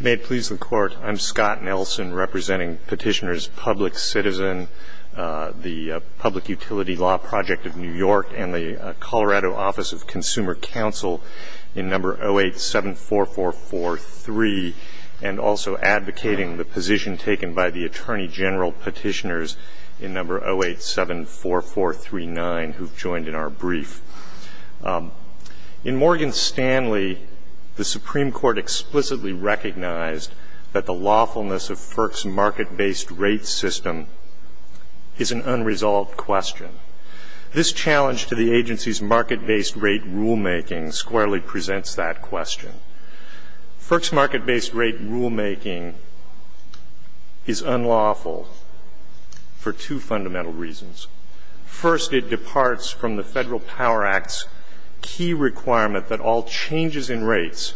May it please the Court, I'm Scott Nelson, representing Petitioners Public Citizen, the Public Utility Law Project of New York, and the Colorado Office of Consumer Counsel in No. 0874443, and also advocating the position taken by the Attorney General Petitioners in No. 0874439, who have joined in our brief. In Morgan Stanley, the Supreme Court explicitly recognized that the lawfulness of FERC's market-based rate system is an unresolved question. This challenge to the agency's market-based rate rulemaking squarely presents that question. FERC's market-based rate rulemaking is unlawful for two fundamental reasons. First, it departs from the Federal Power Act's key requirement that all changes in rates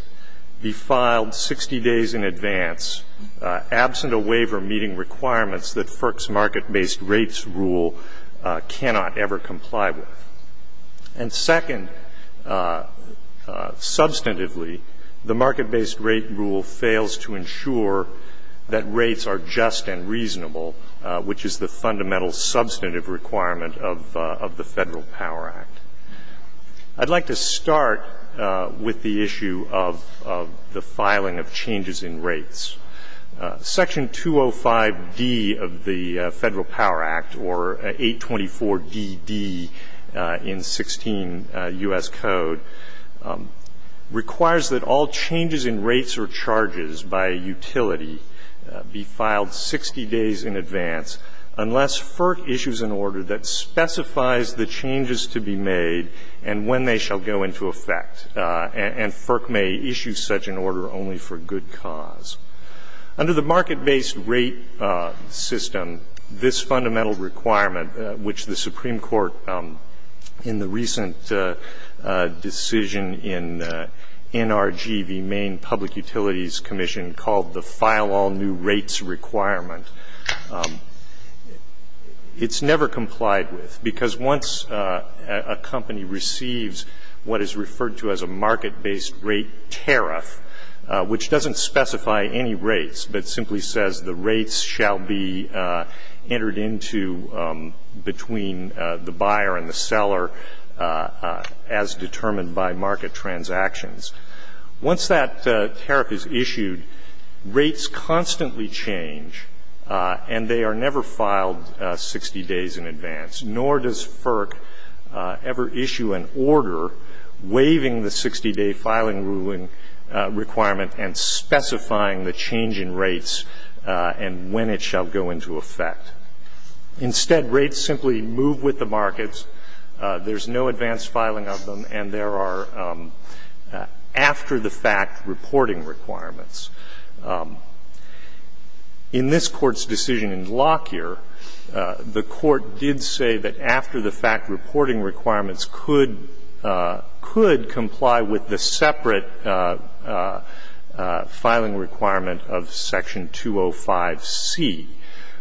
be filed 60 days in advance, absent a waiver meeting requirements that FERC's market-based rates rule cannot ever comply with. And second, substantively, the market-based rate rule fails to ensure that rates are which is the fundamental substantive requirement of the Federal Power Act. I'd like to start with the issue of the filing of changes in rates. Section 205D of the Federal Power Act, or 824DD in 16 U.S. Code, requires that all changes in rates or charges by a utility be filed 60 days in advance unless FERC issues an order that specifies the changes to be made and when they shall go into effect, and FERC may issue such an order only for good cause. Under the market-based rate system, this fundamental requirement, which the Supreme Court in the recent decision in NRG, the Maine Public Utilities Commission, called the file all new rates requirement, it's never complied with because once a company receives what is referred to as a market-based rate tariff, which doesn't specify any rates, but simply says the rates shall be entered into between the buyer and the seller as determined by market transactions. Once that tariff is issued, rates constantly change and they are never filed 60 days in advance, nor does FERC ever issue an order waiving the 60-day filing ruling requirement and specifying the change in rates and when it shall go into effect. Instead, rates simply move with the markets. There's no advanced filing of them, and there are after-the-fact reporting requirements. In this Court's decision in Lockyer, the Court did say that after-the-fact reporting requirements could comply with the separate filing requirement of section 205C,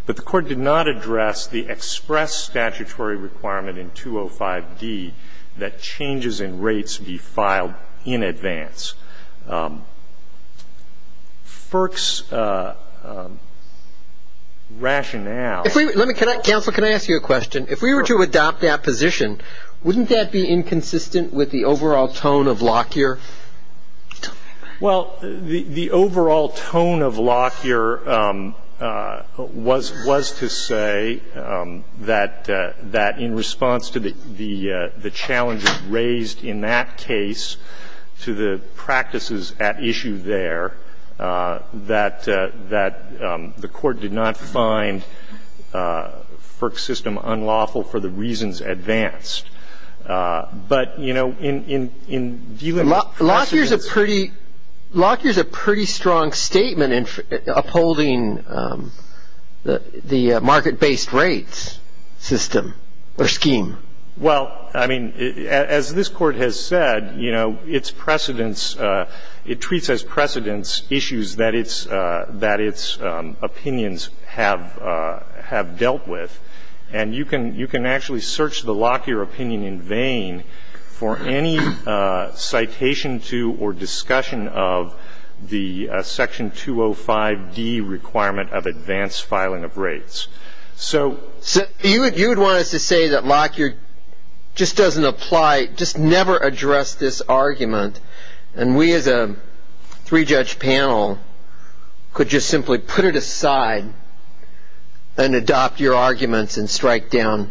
but the Court did not address the express statutory requirement in 205D that changes in rates be filed in advance. FERC's rationale. If we were to adopt that position, wouldn't that be inconsistent with the overall tone of Lockyer? Well, the overall tone of Lockyer was to say that in response to the challenges raised in that case to the practices at issue there, that the Court did not find FERC's system unlawful for the reasons advanced. But, you know, in view of the precedents of it. Lockyer's a pretty strong statement in upholding the market-based rates system or scheme. Well, I mean, as this Court has said, you know, its precedents, it treats as precedents issues that its opinions have dealt with. And you can actually search the Lockyer opinion in vain for any citation to or discussion of the section 205D requirement of advanced filing of rates. So you would want us to say that Lockyer just doesn't apply, just never addressed this argument. And we as a three-judge panel could just simply put it aside and adopt your arguments and strike down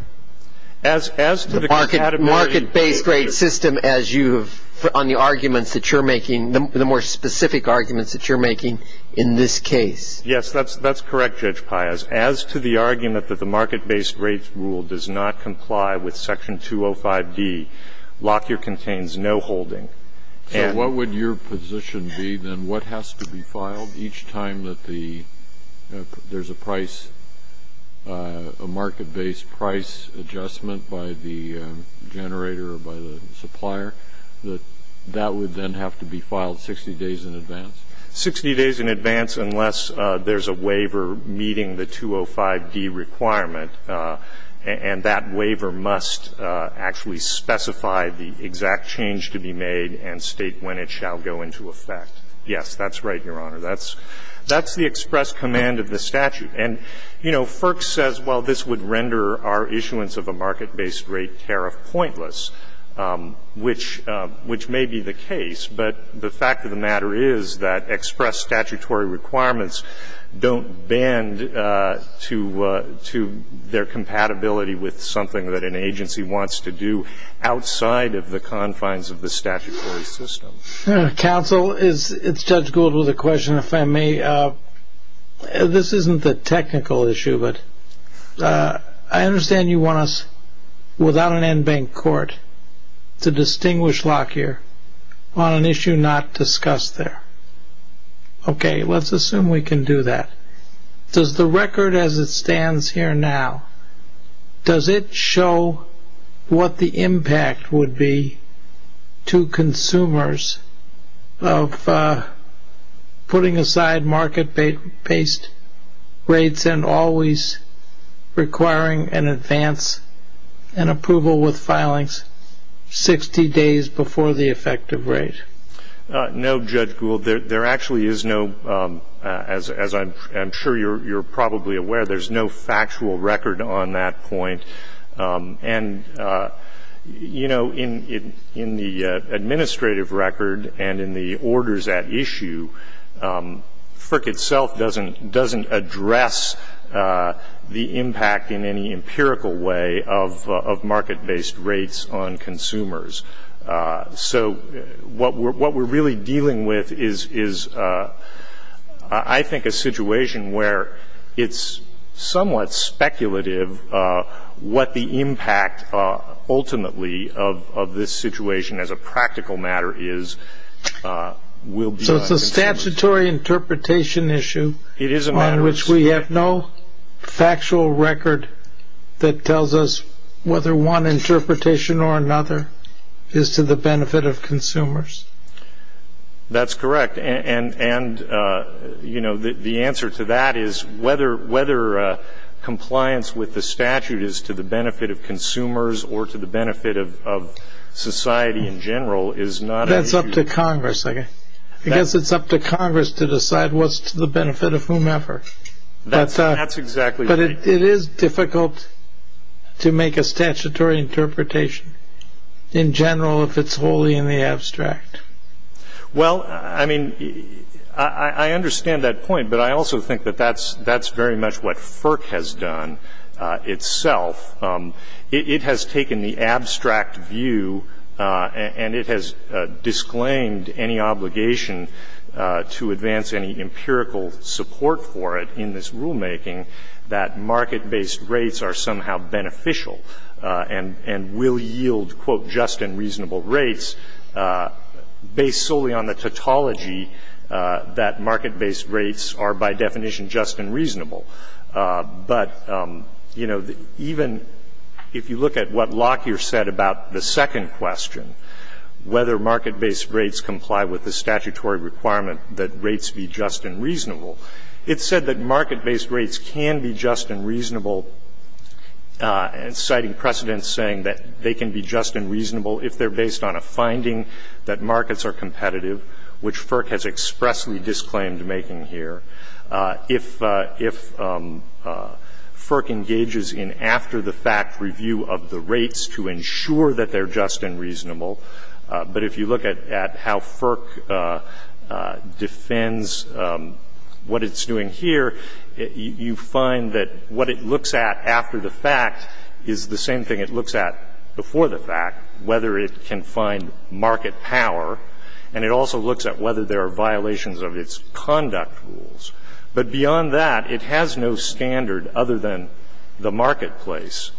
the market-based rates system as you have on the arguments that you're making, the more specific arguments that you're making in this case. Yes, that's correct, Judge Pias. As to the argument that the market-based rates rule does not comply with section 205D, Lockyer contains no holding. So what would your position be then? What has to be filed each time that there's a price, a market-based price adjustment by the generator or by the supplier, that that would then have to be filed 60 days in advance? Sixty days in advance unless there's a waiver meeting the 205D requirement, and that waiver must actually specify the exact change to be made and state when it shall go into effect. Yes, that's right, Your Honor. That's the express command of the statute. And, you know, FERC says, well, this would render our issuance of a market-based rate tariff pointless, which may be the case, but the fact of the matter is that they're compatible with something that an agency wants to do outside of the confines of the statutory system. Counsel, it's Judge Gould with a question, if I may. This isn't the technical issue, but I understand you want us, without an en banc court, to distinguish Lockyer on an issue not discussed there. Okay, let's assume we can do that. Does the record as it stands here now, does it show what the impact would be to consumers of putting aside market-based rates and always requiring an advance and approval with filings 60 days before the effective rate? No, Judge Gould. There actually is no, as I'm sure you're probably aware, there's no factual record on that point. And, you know, in the administrative record and in the orders at issue, FERC itself doesn't address the impact in any empirical way of market-based rates on consumers. So what we're really dealing with is, I think, a situation where it's somewhat speculative what the impact ultimately of this situation as a practical matter is. So it's a statutory interpretation issue on which we have no factual record that tells us whether one interpretation or another is to the benefit of consumers. That's correct. And, you know, the answer to that is whether compliance with the statute is to the benefit of consumers or to the benefit of society in general is not an issue. That's up to Congress. I guess it's up to Congress to decide what's to the benefit of whomever. That's exactly right. But it is difficult to make a statutory interpretation in general if it's wholly in the abstract. Well, I mean, I understand that point, but I also think that that's very much what FERC has done itself. It has taken the abstract view, and it has disclaimed any obligation to advance any empirical support for it in this rulemaking that market-based rates are somehow beneficial and will yield, quote, just and reasonable rates based solely on the tautology that market-based rates are by definition just and reasonable. But, you know, even if you look at what Lockyer said about the second question, whether market-based rates comply with the statutory requirement that rates be just and reasonable, it said that market-based rates can be just and reasonable, citing precedents saying that they can be just and reasonable if they're based on a finding that markets are competitive, which FERC has expressly disclaimed making here. If FERC engages in after-the-fact review of the rates to ensure that they're just and reasonable, but if you look at how FERC defends what it's doing here, you find that what it looks at after the fact is the same thing it looks at before the fact, whether it can find market power. And it also looks at whether there are violations of its conduct rules. But beyond that, it has no standard other than the marketplace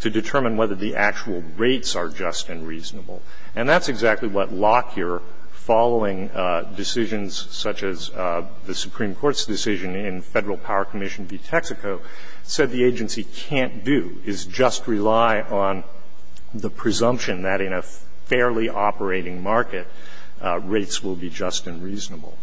to determine whether the actual rates are just and reasonable. And that's exactly what Lockyer, following decisions such as the Supreme Court's decision in Federal Power Commission v. Texaco, said the agency can't do, is just rely on the presumption that in a fairly operating market, rates will be just and reasonable.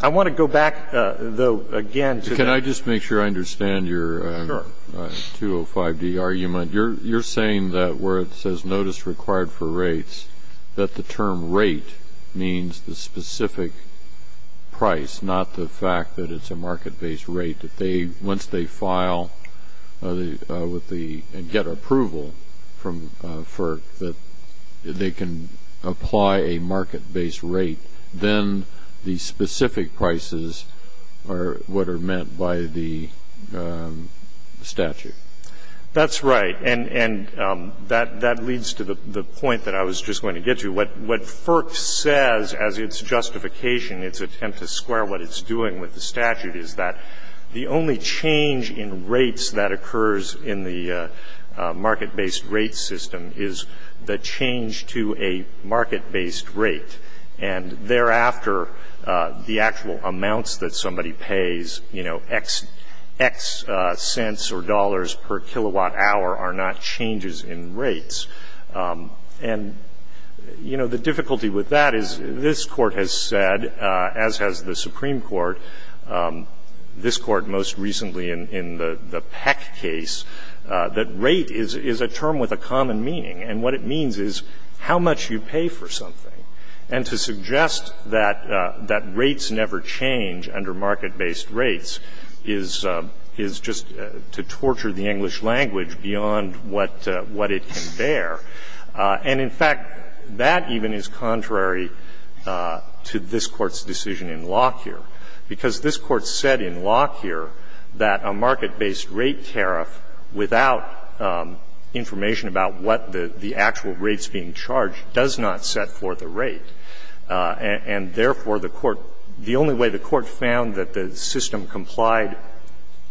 I want to go back, though, again to the next point. I understand your 205d argument. You're saying that where it says notice required for rates, that the term rate means the specific price, not the fact that it's a market-based rate that once they file and get approval from FERC that they can apply a market-based rate, then the specific prices are what are meant by the statute. That's right. And that leads to the point that I was just going to get to. What FERC says, as its justification, its attempt to square what it's doing with the statute, is that the only change in rates that occurs in the market-based rate system is the change to a market-based rate. And thereafter, the actual amounts that somebody pays, you know, x cents or dollars per kilowatt hour are not changes in rates. And, you know, the difficulty with that is this Court has said, as has the Supreme Court, this Court most recently in the Peck case, that rate is a term with a common meaning. And what it means is how much you pay for something. And to suggest that rates never change under market-based rates is just to torture the English language beyond what it can bear. And, in fact, that even is contrary to this Court's decision in Locke here. Because this Court said in Locke here that a market-based rate tariff, without information about what the actual rate's being charged, does not set for the rate. And therefore, the Court, the only way the Court found that the system complied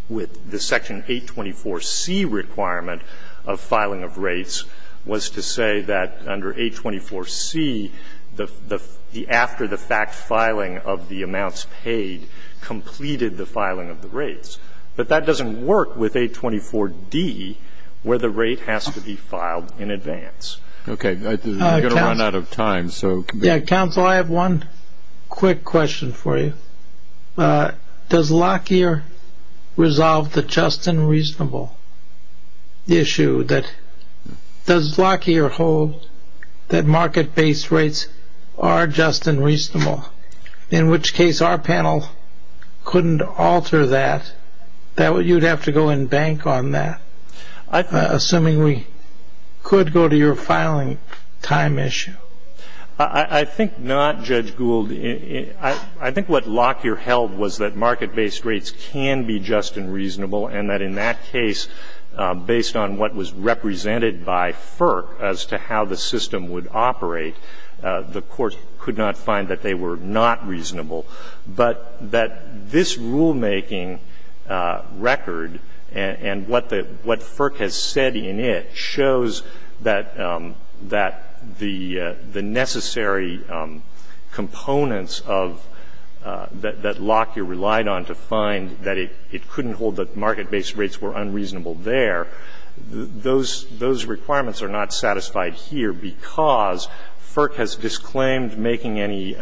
with the section 824C requirement of filing of rates was to say that under 824C, the after-the-fact filing of the amounts paid completed the filing of the rates. But that doesn't work with 824D, where the rate has to be filed in advance. OK, we're going to run out of time. Yeah, counsel, I have one quick question for you. Does Locke here resolve the just and reasonable issue that does Locke here hold, that market-based rates are just and reasonable? In which case, our panel couldn't alter that. That way, you'd have to go and bank on that, assuming we could go to your filing time issue. I think not, Judge Gould. I think what Locke here held was that market-based rates can be just and reasonable, and that in that case, based on what was represented by FERC as to how the system would operate, the Court could not find that they were not reasonable. But that this rulemaking record and what the FERC has said in it shows that the necessary components of that Locke here relied on to find that it couldn't hold that market based rates were unreasonable there, those requirements are not satisfied here because FERC has disclaimed making any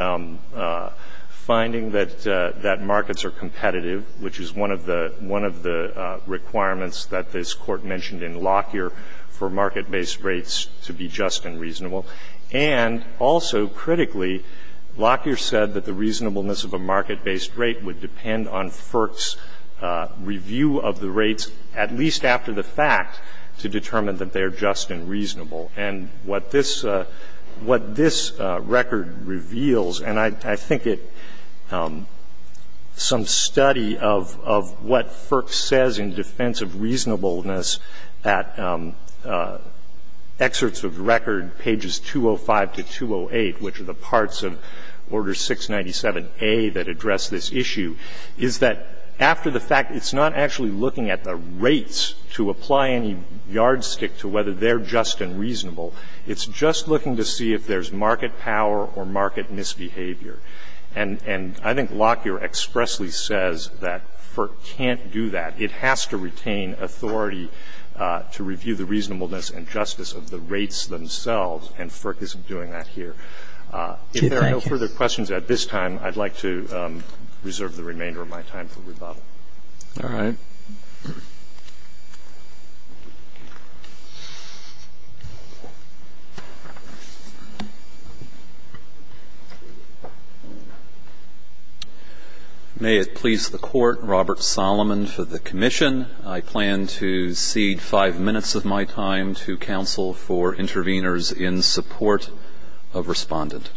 finding that markets are competitive, which is one of the requirements that this Court mentioned in Locke here for market-based rates to be just and reasonable. And also, critically, Locke here said that the reasonableness of a market-based rate would depend on FERC's review of the rates, at least after the fact, to determine that they are just and reasonable. And what this record reveals, and I think it's some study of what FERC says in defense of reasonableness at excerpts of the record, pages 205 to 208, which are the parts of Order 697A that address this issue, is that after the fact, it's not actually looking at the rates to apply any yardstick to whether they're just and reasonable. It's just looking to see if there's market power or market misbehavior. And I think Locke here expressly says that FERC can't do that. It has to retain authority to review the reasonableness and justice of the rates themselves, and FERC isn't doing that here. If there are no further questions at this time, I'd like to reserve the remainder of my time for rebuttal. Roberts. May it please the Court, Robert Solomon for the commission. I plan to cede 5 minutes of my time to counsel for interveners in support of respondent.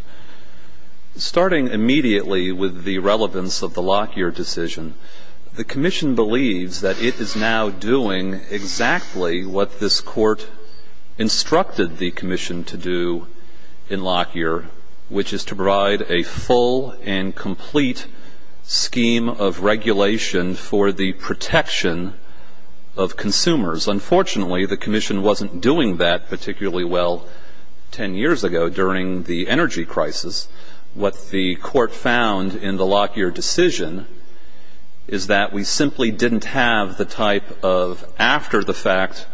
Starting immediately with the relevance of the Lockyer decision, the commission believes that it is now doing exactly what this Court instructed the commission to do in Lockyer, which is to provide a full and complete scheme of regulation for the protection of consumers. Unfortunately, the commission wasn't doing that particularly well 10 years ago during the energy crisis. What the Court found in the Lockyer decision is that we simply didn't have the type of after-the-fact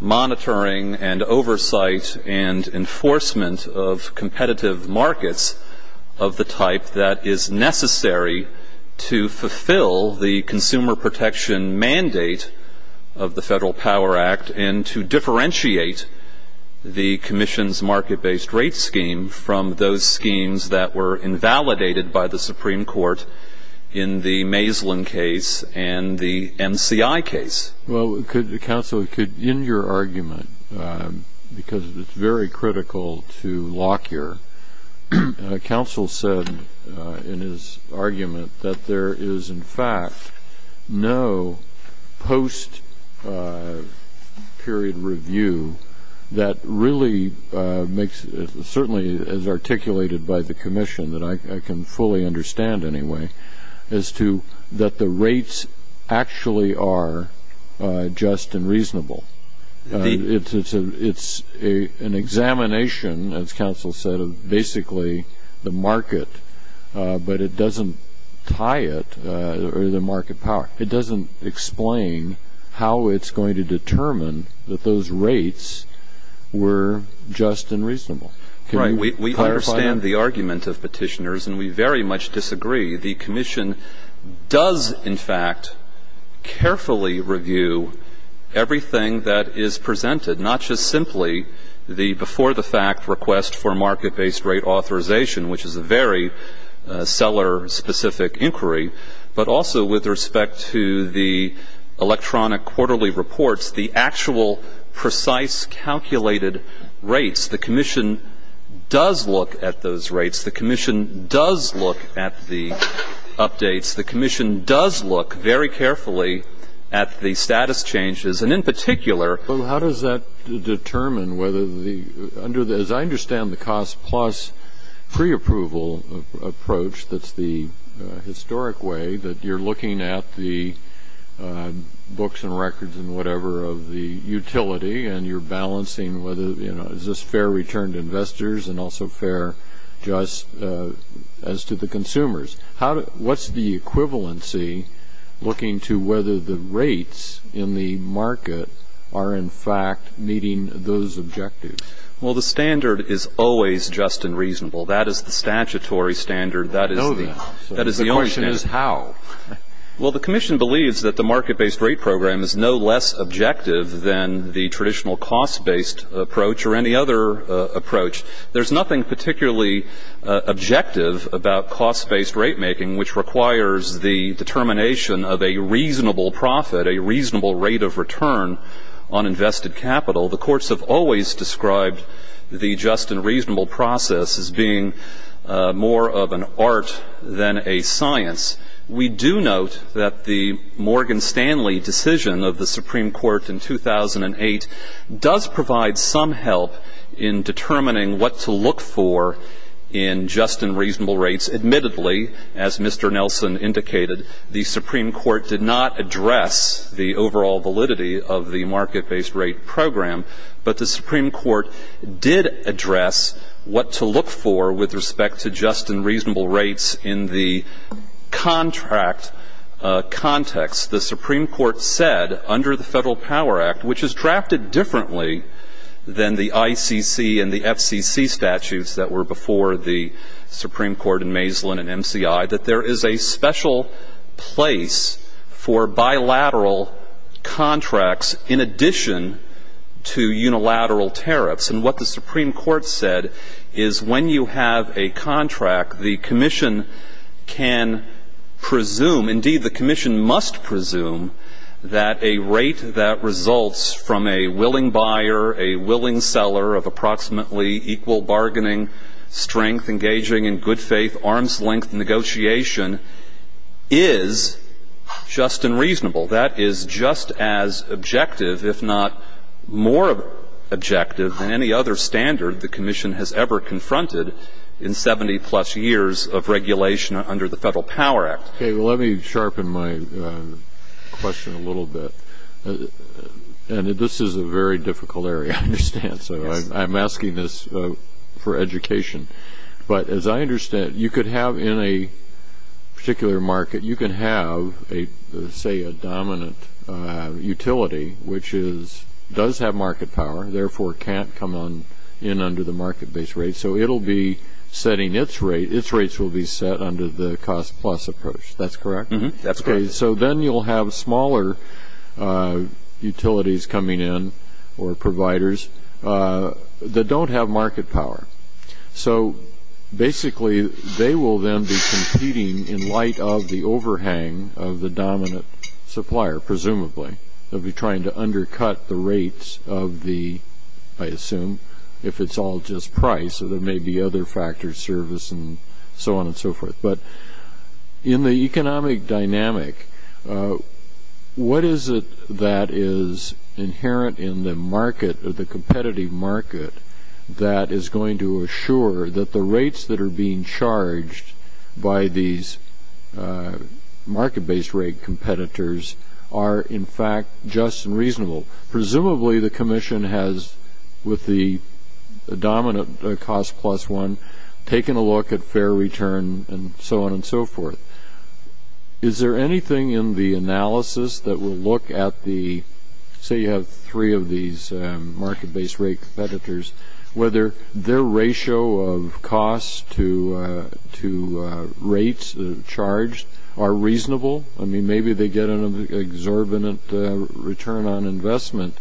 monitoring and oversight and enforcement of competitive markets of the Federal Power Act, and to differentiate the commission's market-based rate scheme from those schemes that were invalidated by the Supreme Court in the Maislin case and the MCI case. Well, could the counsel, in your argument, because it's very critical to Lockyer, counsel said in his argument that there is, in fact, no post-period review that really makes, certainly as articulated by the commission, that I can fully understand anyway, as to that the rates It's an examination, as counsel said, of basically the market, but it doesn't tie it to the market power. It doesn't explain how it's going to determine that those rates were just and reasonable. Right. We understand the argument of petitioners, and we very much disagree. The commission does, in fact, carefully review everything that is presented, not just simply the before-the-fact request for market-based rate authorization, which is a very seller-specific inquiry, but also with respect to the electronic quarterly reports, the actual precise calculated rates. The commission does look at those rates. The commission does look at the updates. The commission does look very carefully at the status changes, and in particular Well, how does that determine whether the, under the, as I understand the cost plus pre-approval approach that's the historic way, that you're looking at the books and records and whatever of the utility, and you're balancing whether, you know, is this fair return to investors and also fair just as to the consumers. What's the equivalency looking to whether the rates in the market are, in fact, meeting those objectives? Well, the standard is always just and reasonable. That is the statutory standard. I know that. That is the only thing. The question is how. Well, the commission believes that the market-based rate program is no less objective than the There's nothing particularly objective about cost-based rate making, which requires the determination of a reasonable profit, a reasonable rate of return on invested capital. The courts have always described the just and reasonable process as being more of an art than a science. We do note that the Morgan Stanley decision of the Supreme Court in 2008 does provide some help in determining what to look for in just and reasonable rates. Admittedly, as Mr. Nelson indicated, the Supreme Court did not address the overall validity of the market-based rate program, but the Supreme Court did address what to look for with respect to just and reasonable rates in the contract context. The Supreme Court said under the Federal Power Act, which is drafted differently than the ICC and the FCC statutes that were before the Supreme Court in Maislin and MCI, that there is a special place for bilateral contracts in addition to unilateral tariffs. And what the Supreme Court said is when you have a contract, the commission can presume – indeed, the commission must presume – that a rate that results from a willing buyer, a willing seller of approximately equal bargaining strength, engaging in good-faith, arm's-length negotiation is just and reasonable. That is just as objective, if not more objective, than any other standard the commission has ever confronted in 70-plus years of regulation under the Federal Power Act. Okay, well, let me sharpen my question a little bit. And this is a very difficult area, I understand, so I'm asking this for education. But as I understand, you could have in a particular market, you can have, say, a dominant utility, which does have market power, therefore can't come in under the market-based rate. So it'll be setting its rate – its rates will be set under the cost-plus approach, that's correct? Mm-hmm, that's correct. Okay, so then you'll have smaller utilities coming in, or providers, that don't have market power. So basically, they will then be competing in light of the overhang of the dominant supplier, presumably. They'll be trying to undercut the rates of the – I assume, if it's all just price, so there may be other factors, service, and so on and so forth. But in the economic dynamic, what is it that is inherent in the market, or the competitive market, that is going to assure that the rates that are being charged by these market-based rate competitors are, in fact, just and reasonable? Presumably, the commission has, with the dominant cost-plus one, taken a look at fair return and so on and so forth. Is there anything in the analysis that will look at the – say you have three of these market-based rate competitors, whether their ratio of costs to rates charged are reasonable? I mean, maybe they get an exorbitant return on investment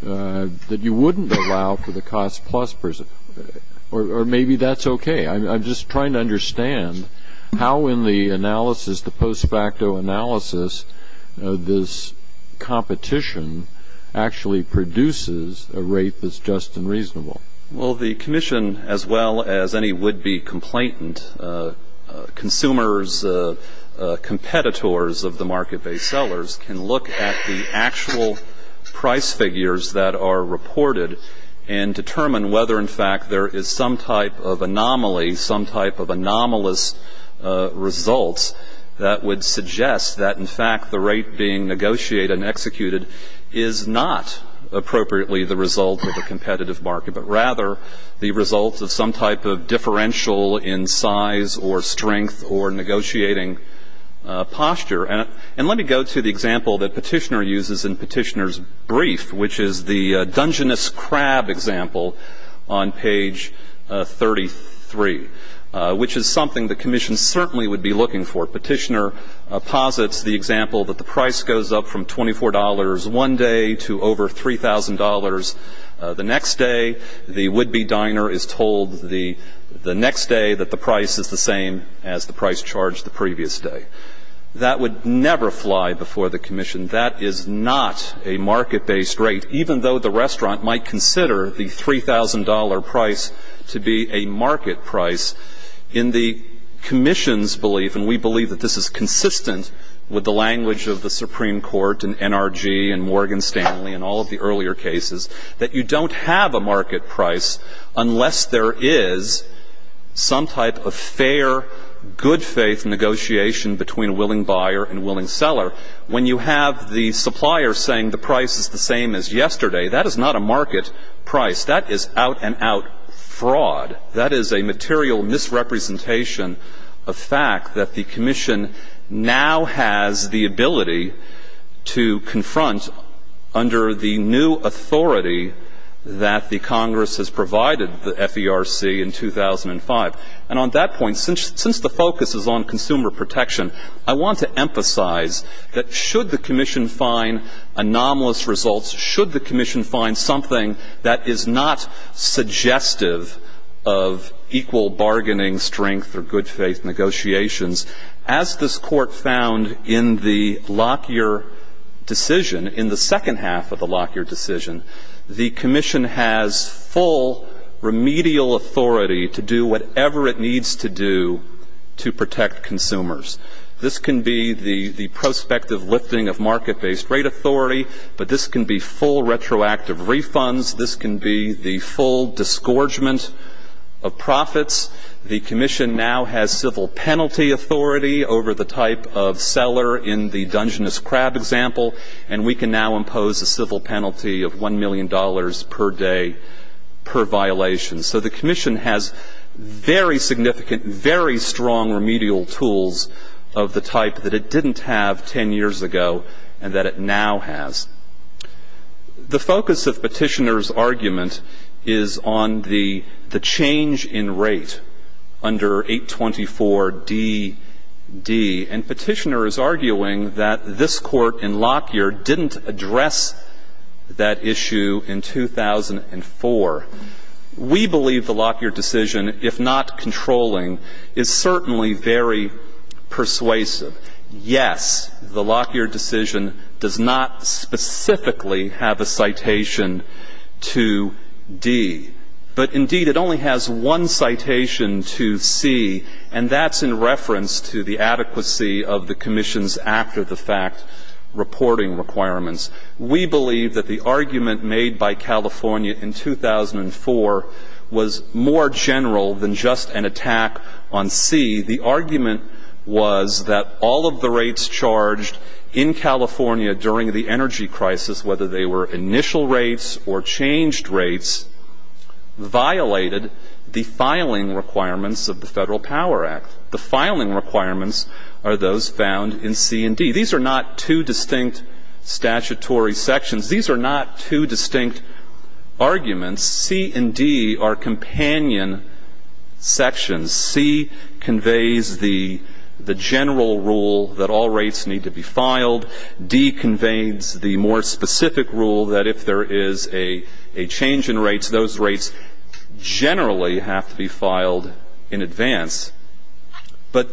that you wouldn't allow for the cost-plus – or maybe that's okay. I'm just trying to understand how, in the analysis, the post-facto analysis, this competition actually produces a rate that's just and reasonable. Well, the commission, as well as any would-be complainant, consumers, competitors of the market-based sellers, can look at the actual price figures that are reported and determine whether, in fact, there is some type of anomaly, some type of anomalous results that would suggest that, in fact, the rate being negotiated and executed is not appropriately the result of a competitive market, but rather the result of some type of differential in size or strength or negotiating posture. And let me go to the example that Petitioner uses in Petitioner's brief, which is the Dungeness Crab example on page 33, which is something the commission certainly would be looking for. Petitioner posits the example that the price goes up from $24 one day to over $3,000 the next day. The would-be diner is told the next day that the price is the same as the price charged the previous day. That would never fly before the commission. That is not a market-based rate, even though the restaurant might consider the $3,000 price to be a market price. In the commission's belief, and we believe that this is consistent with the language of the Supreme Court and NRG and Morgan Stanley and all of the earlier cases, that you don't have a market price unless there is some type of fair, good-faith negotiation between a willing buyer and a willing seller. When you have the supplier saying the price is the same as yesterday, that is not a market price. That is out-and-out fraud. That is a material misrepresentation of fact that the commission now has the ability to confront under the new authority that the Congress has provided, the FERC, in 2005. And on that point, since the focus is on consumer protection, I want to emphasize that should the commission find anomalous results, should the commission find something that is not suggestive of equal bargaining strength or good-faith negotiations, as this Court found in the Lockyer decision, in the second half of the Lockyer decision, the commission has full remedial authority to do whatever it needs to do to protect consumers. This can be the prospective lifting of market-based rate authority. But this can be full retroactive refunds. This can be the full disgorgement of profits. The commission now has civil penalty authority over the type of seller in the Dungeness crab example. And we can now impose a civil penalty of $1 million per day per violation. So the commission has very significant, very strong remedial tools of the type that it didn't have 10 years ago and that it now has. The focus of Petitioner's argument is on the change in rate under 824DD. And Petitioner is arguing that this Court in Lockyer didn't address that issue in 2004. We believe the Lockyer decision, if not controlling, is certainly very persuasive. Yes, the Lockyer decision does not specifically have a citation to D. But indeed, it only has one citation to C, and that's in reference to the adequacy of the commission's after-the-fact reporting requirements. We believe that the argument made by California in 2004 was more general than just an attack on C. The argument was that all of the rates charged in California during the energy crisis, whether they were initial rates or changed rates, violated the filing requirements of the Federal Power Act. The filing requirements are those found in C and D. These are not two distinct statutory sections. These are not two distinct arguments. C and D are companion sections. C conveys the general rule that all rates need to be filed. D conveys the more specific rule that if there is a change in rates, those rates generally have to be filed in advance. But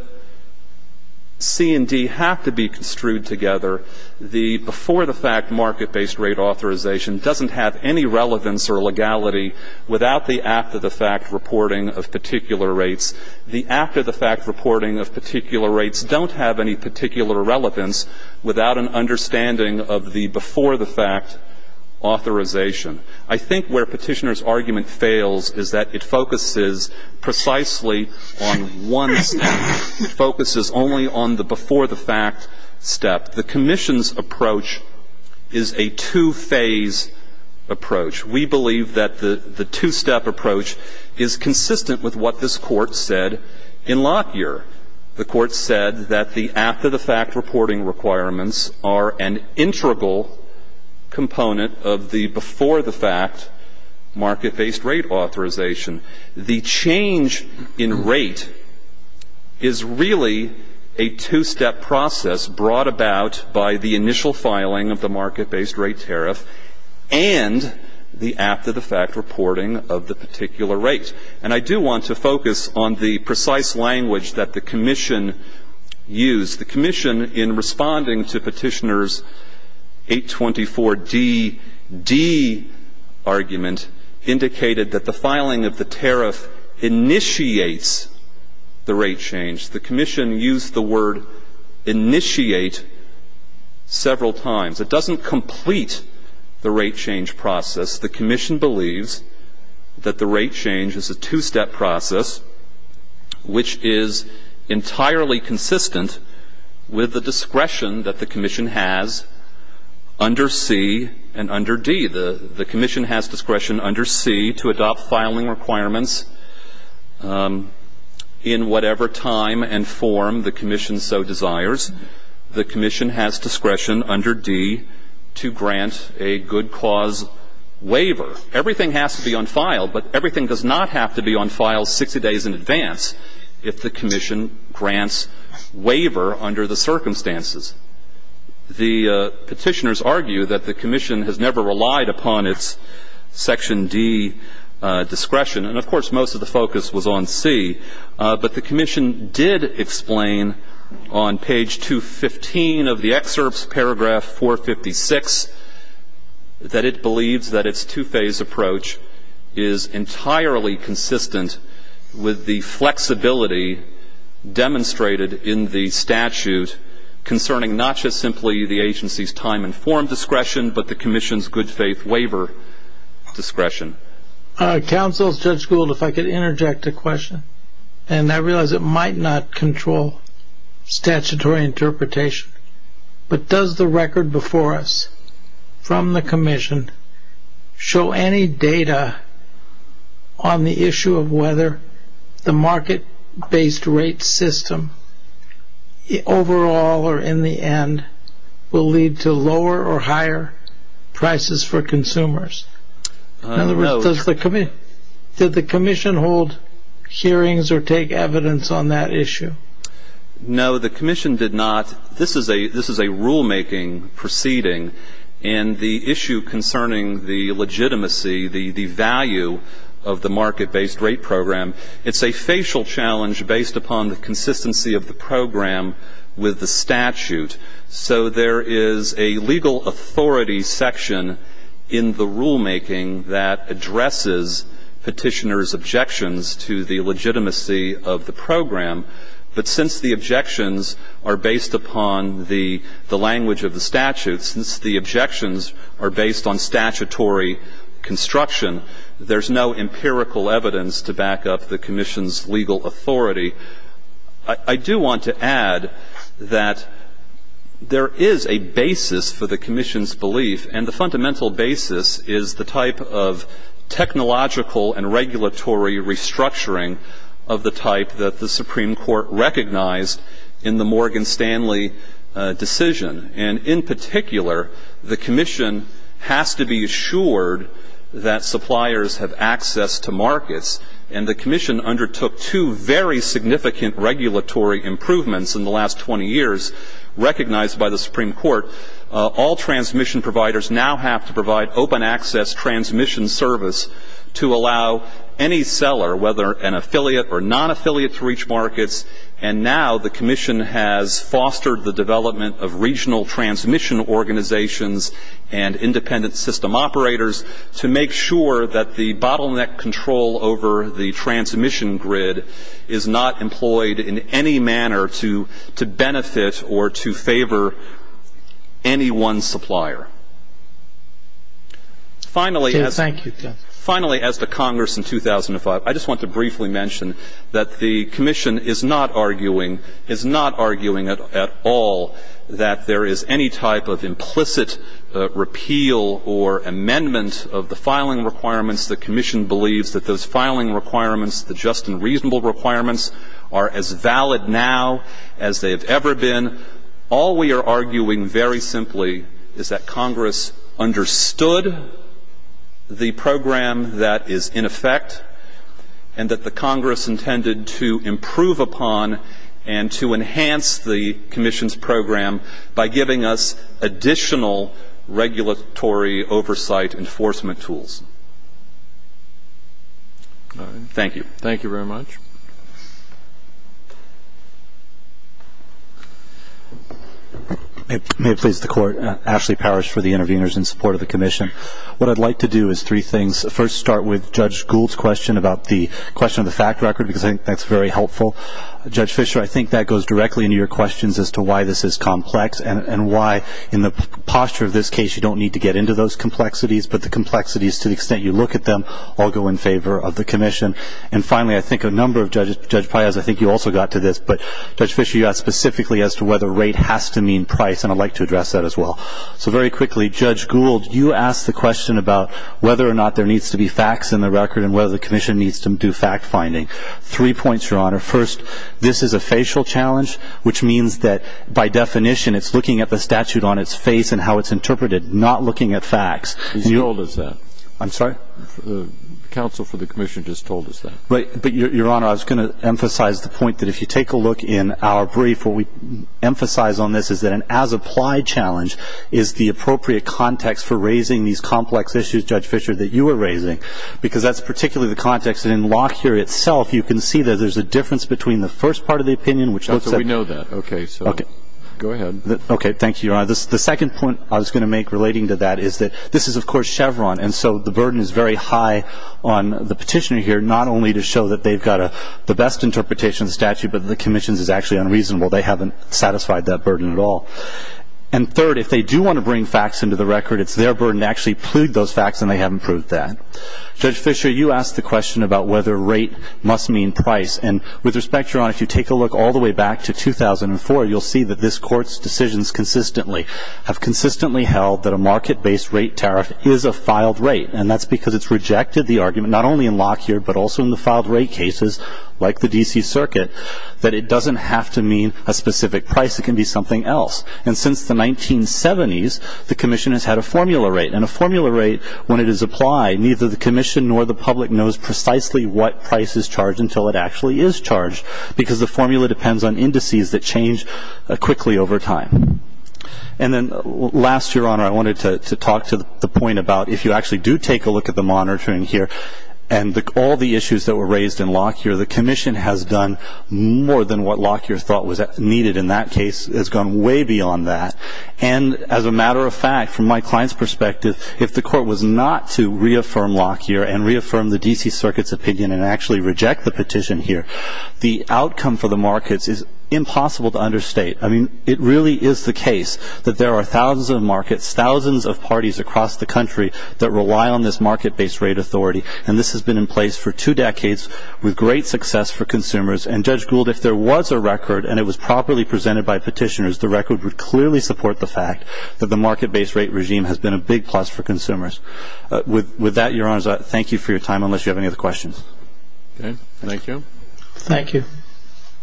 C and D have to be construed together. The before-the-fact market-based rate authorization doesn't have any relevance or legality without the after-the-fact reporting of particular rates. The after-the-fact reporting of particular rates don't have any particular relevance without an understanding of the before-the-fact authorization. I think where Petitioner's argument fails is that it focuses precisely on one step. It focuses only on the before-the-fact step. The Commission's approach is a two-phase approach. We believe that the two-step approach is consistent with what this Court said in Lockyer. The Court said that the after-the-fact reporting requirements are an integral component of the before-the-fact market-based rate authorization. The change in rate is really a two-step process brought about by the initial filing of the market-based rate tariff and the after-the-fact reporting of the particular rate. And I do want to focus on the precise language that the Commission used. The Commission, in responding to Petitioner's 824DD argument, indicated that the filing of the tariff initiates the rate change. The Commission used the word initiate several times. It doesn't complete the rate change process. The Commission believes that the rate change is a two-step process which is entirely consistent with the discretion that the Commission has under C and under D. The Commission has discretion under C to adopt filing requirements in whatever time and form the Commission so desires. The Commission has discretion under D to grant a good cause waiver. Everything has to be on file, but everything does not have to be on file 60 days in advance if the Commission grants waiver under the circumstances. The Petitioners argue that the Commission has never relied upon its Section D discretion. And, of course, most of the focus was on C. But the Commission did explain on page 215 of the excerpts, paragraph 456, that it believes that its two-phase approach is entirely consistent with the flexibility demonstrated in the statute concerning not just simply the Agency's time and form discretion, but the Commission's good faith waiver discretion. Counsel, Judge Gould, if I could interject a question, and I realize it might not control statutory interpretation, but does the record before us from the Commission show any data on the issue of whether the market-based rate system, overall or in the end, will lead to lower or higher prices for consumers? In other words, did the Commission hold hearings or take evidence on that issue? No, the Commission did not. This is a rulemaking proceeding, and the issue concerning the legitimacy, the value of the market-based rate program, it's a facial challenge based upon the consistency of the program with the statute. So there is a legal authority section in the rulemaking that addresses Petitioners' objections to the legitimacy of the program. But since the objections are based upon the language of the statute, since the objections are based on statutory construction, there's no empirical evidence to back up the Commission's legal authority. I do want to add that there is a basis for the Commission's belief, and the fundamental basis is the type of technological and regulatory restructuring of the type that the Supreme Court recognized in the Morgan Stanley decision. And in particular, the Commission has to recognize and has to be assured that suppliers have access to markets. And the Commission undertook two very significant regulatory improvements in the last 20 years, recognized by the Supreme Court. All transmission providers now have to provide open access transmission service to allow any seller, whether an affiliate or non-affiliate, to reach markets. And now the Commission has fostered the development of regional transmission organizations and independent system operators to make sure that the bottleneck control over the transmission grid is not employed in any manner to benefit or to favor any one supplier. Finally, as to Congress in 2005, I just want to briefly mention that the Commission is not arguing, is not arguing at all, that there is any type of implicit repeal of the filing requirements. The Commission believes that those filing requirements, the just and reasonable requirements, are as valid now as they have ever been. All we are arguing very simply is that Congress understood the program that is in effect and that the Congress intended to improve upon and to enhance the Commission's program by giving us additional regulatory oversight enforcement tools. Thank you. Thank you very much. May it please the Court, Ashley Parrish for the interveners in support of the Commission. What I'd like to do is three things. First, start with Judge Gould's question about the question of the fact record, because I think that's very helpful. Judge Fischer, I think that goes directly into your questions as to why this is complex and why, in the posture of this case, you don't need to get into those complexities, but the complexities, to the extent you look at them, all go in favor of the Commission. And finally, I think a number of Judges, Judge Paez, I think you also got to this, but Judge Fischer, you got specifically as to whether rate has to mean price, and I'd like to address that as well. So very quickly, Judge Gould, you asked the question about whether or not there needs to be facts in the record and whether the Commission needs to do fact finding. Three points, Your Honor. First, this is a facial challenge, which means that by definition it's looking at the statute on its face and how it's interpreted, not looking at facts. And you told us that. I'm sorry? Counsel for the Commission just told us that. But, Your Honor, I was going to emphasize the point that if you take a look in our brief, what we emphasize on this is that an as-applied challenge is the appropriate context for raising these complex issues, Judge Fischer, that you are raising, because that's particularly the context that in Locke here itself, you can see that there's a difference between the first part of the opinion, which looks at We know that. Okay. So go ahead. Okay. Thank you, Your Honor. The second point I was going to make relating to that is that this is, of course, Chevron, and so the burden is very high on the petitioner here, not only to show that they've got the best interpretation of the statute, but the Commission's is actually unreasonable. They haven't satisfied that burden at all. And third, if they do want to bring facts into the record, it's their burden to actually plead those facts, and they haven't proved that. Judge Fischer, you asked the question about whether rate must mean price, and with respect, Your Honor, if you take a look all the way back to 2004, you'll see that this Court's decisions consistently have consistently held that a market-based rate tariff is a filed rate, and that's because it's rejected the argument, not only in Locke here, but also in the filed rate cases, like the D.C. Circuit, that it doesn't have to mean a specific price. It can be something else. And since the 1970s, the Commission has had a formula rate, and a formula rate, when it is applied, neither the Commission nor the public knows precisely what price is charged until it actually is charged, because the formula depends on indices that change quickly over time. And then last, Your Honor, I wanted to talk to the point about if you actually do take a look at the monitoring here, and all the issues that were raised in Locke here, the Commission has done more than what Locke here thought was needed in that case. It's gone way beyond that. And as a matter of fact, from my client's perspective, if the Court was not to reaffirm Locke here, and reaffirm the D.C. Circuit's opinion, and actually reject the petition here, the outcome for the markets is impossible to understate. I mean, it really is the case that there are thousands of markets, thousands of parties across the country that rely on this market-based rate authority, and this has been in place for two decades with great success for consumers. And Judge Gould, if there was a record, and it was properly presented by petitioners, the record would clearly support the fact that the market-based rate regime has been a big plus for consumers. With that, Your Honors, I thank you for your time, unless you have any other questions. Thank you. Thank you.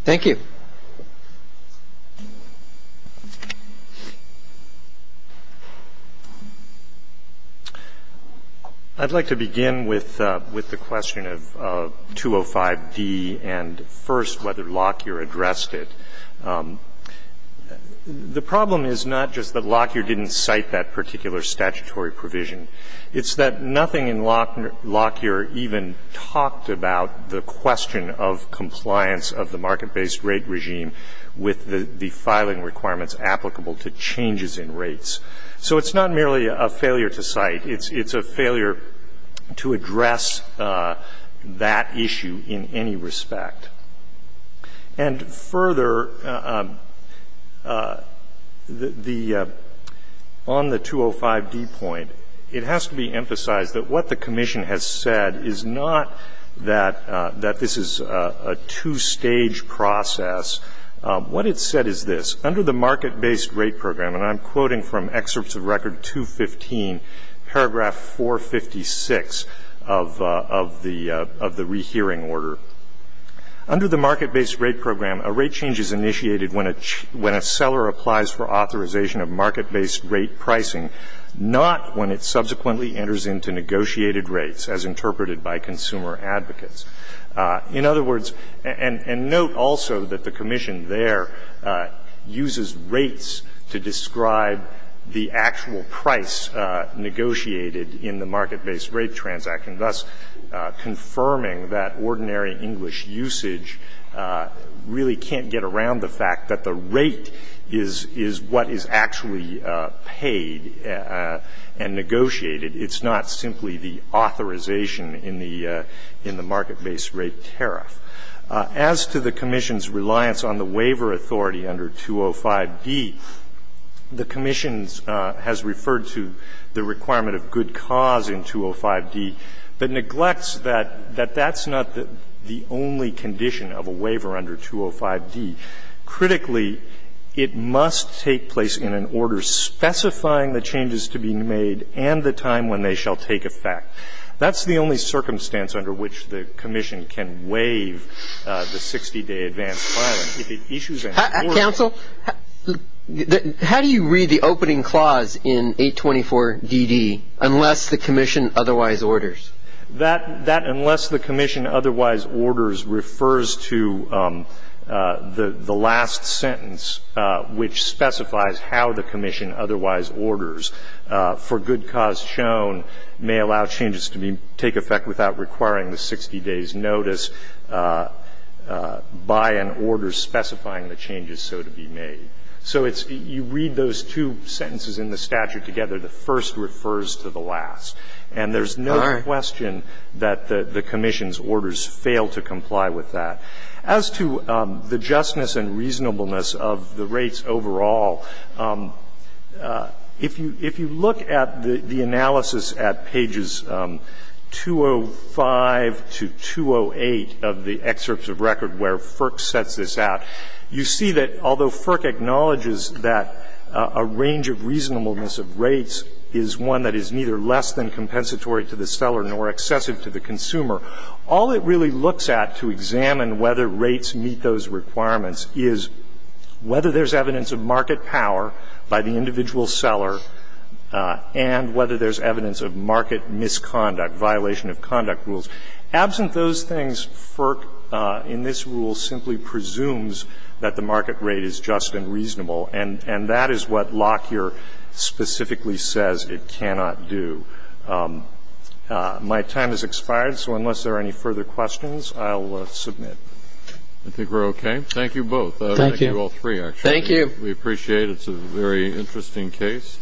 Thank you. I'd like to begin with the question of 205D and, first, whether Locke here addressed it. The problem is not just that Locke here didn't cite that particular statutory provision. It's that nothing in Locke here even talked about the question of compliance of the market-based rate regime with the filing requirements applicable to changes in rates. So it's not merely a failure to cite. It's a failure to address that issue in any respect. And further, the — on the 205D point, it has to be emphasized that what the Commission has said is not that this is a two-stage process. What it said is this. Under the market-based rate program, and I'm quoting from excerpts of Record 215, paragraph 456 of the — of the rehearing order. Under the market-based rate program, a rate change is initiated when a — when a seller applies for authorization of market-based rate pricing, not when it subsequently enters into negotiated rates, as interpreted by consumer advocates. In other words — and note also that the Commission there uses rates to describe the actual price negotiated in the market-based rate transaction, thus confirming that ordinary English usage really can't get around the fact that the rate is what is actually paid and negotiated. It's not simply the authorization in the — in the market-based rate tariff. As to the Commission's reliance on the waiver authority under 205D, the Commission has referred to the requirement of good cause in 205D, but neglects that that's not the only condition of a waiver under 205D. Critically, it must take place in an order specifying the changes to be made and the time when they shall take effect. That's the only circumstance under which the Commission can waive the 60-day advanced filing. If it issues a — Counsel, how do you read the opening clause in 824DD, unless the Commission otherwise orders? That — that unless the Commission otherwise orders refers to the — the last sentence, which specifies how the Commission otherwise orders. For good cause shown may allow changes to be — take effect without requiring the 60 days' notice by an order specifying the changes so to be made. So it's — you read those two sentences in the statute together, the first refers to the last. And there's no question that the — the Commission's orders fail to comply with that. As to the justness and reasonableness of the rates overall, if you — if you look at the — the analysis at pages 205 to 208 of the excerpts of record where Firk sets this out, you see that although Firk acknowledges that a range of reasonableness of rates is one that is neither less than compensatory to the seller nor excessive to the consumer, all it really looks at to examine whether the rates meet those requirements is whether there's evidence of market power by the individual seller and whether there's evidence of market misconduct, violation of conduct rules. Absent those things, Firk, in this rule, simply presumes that the market rate is just and reasonable. And — and that is what Lockyer specifically says it cannot do. My time has expired, so unless there are any further questions, I'll submit. I think we're okay. Thank you both. Thank you. Thank you all three, actually. Thank you. We appreciate it. It's a very interesting case.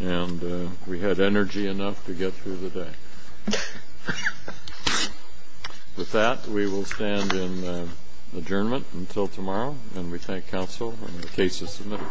And we had energy enough to get through the day. With that, we will stand in adjournment until tomorrow, and we thank counsel and the case is submitted. Thank you. Thank you.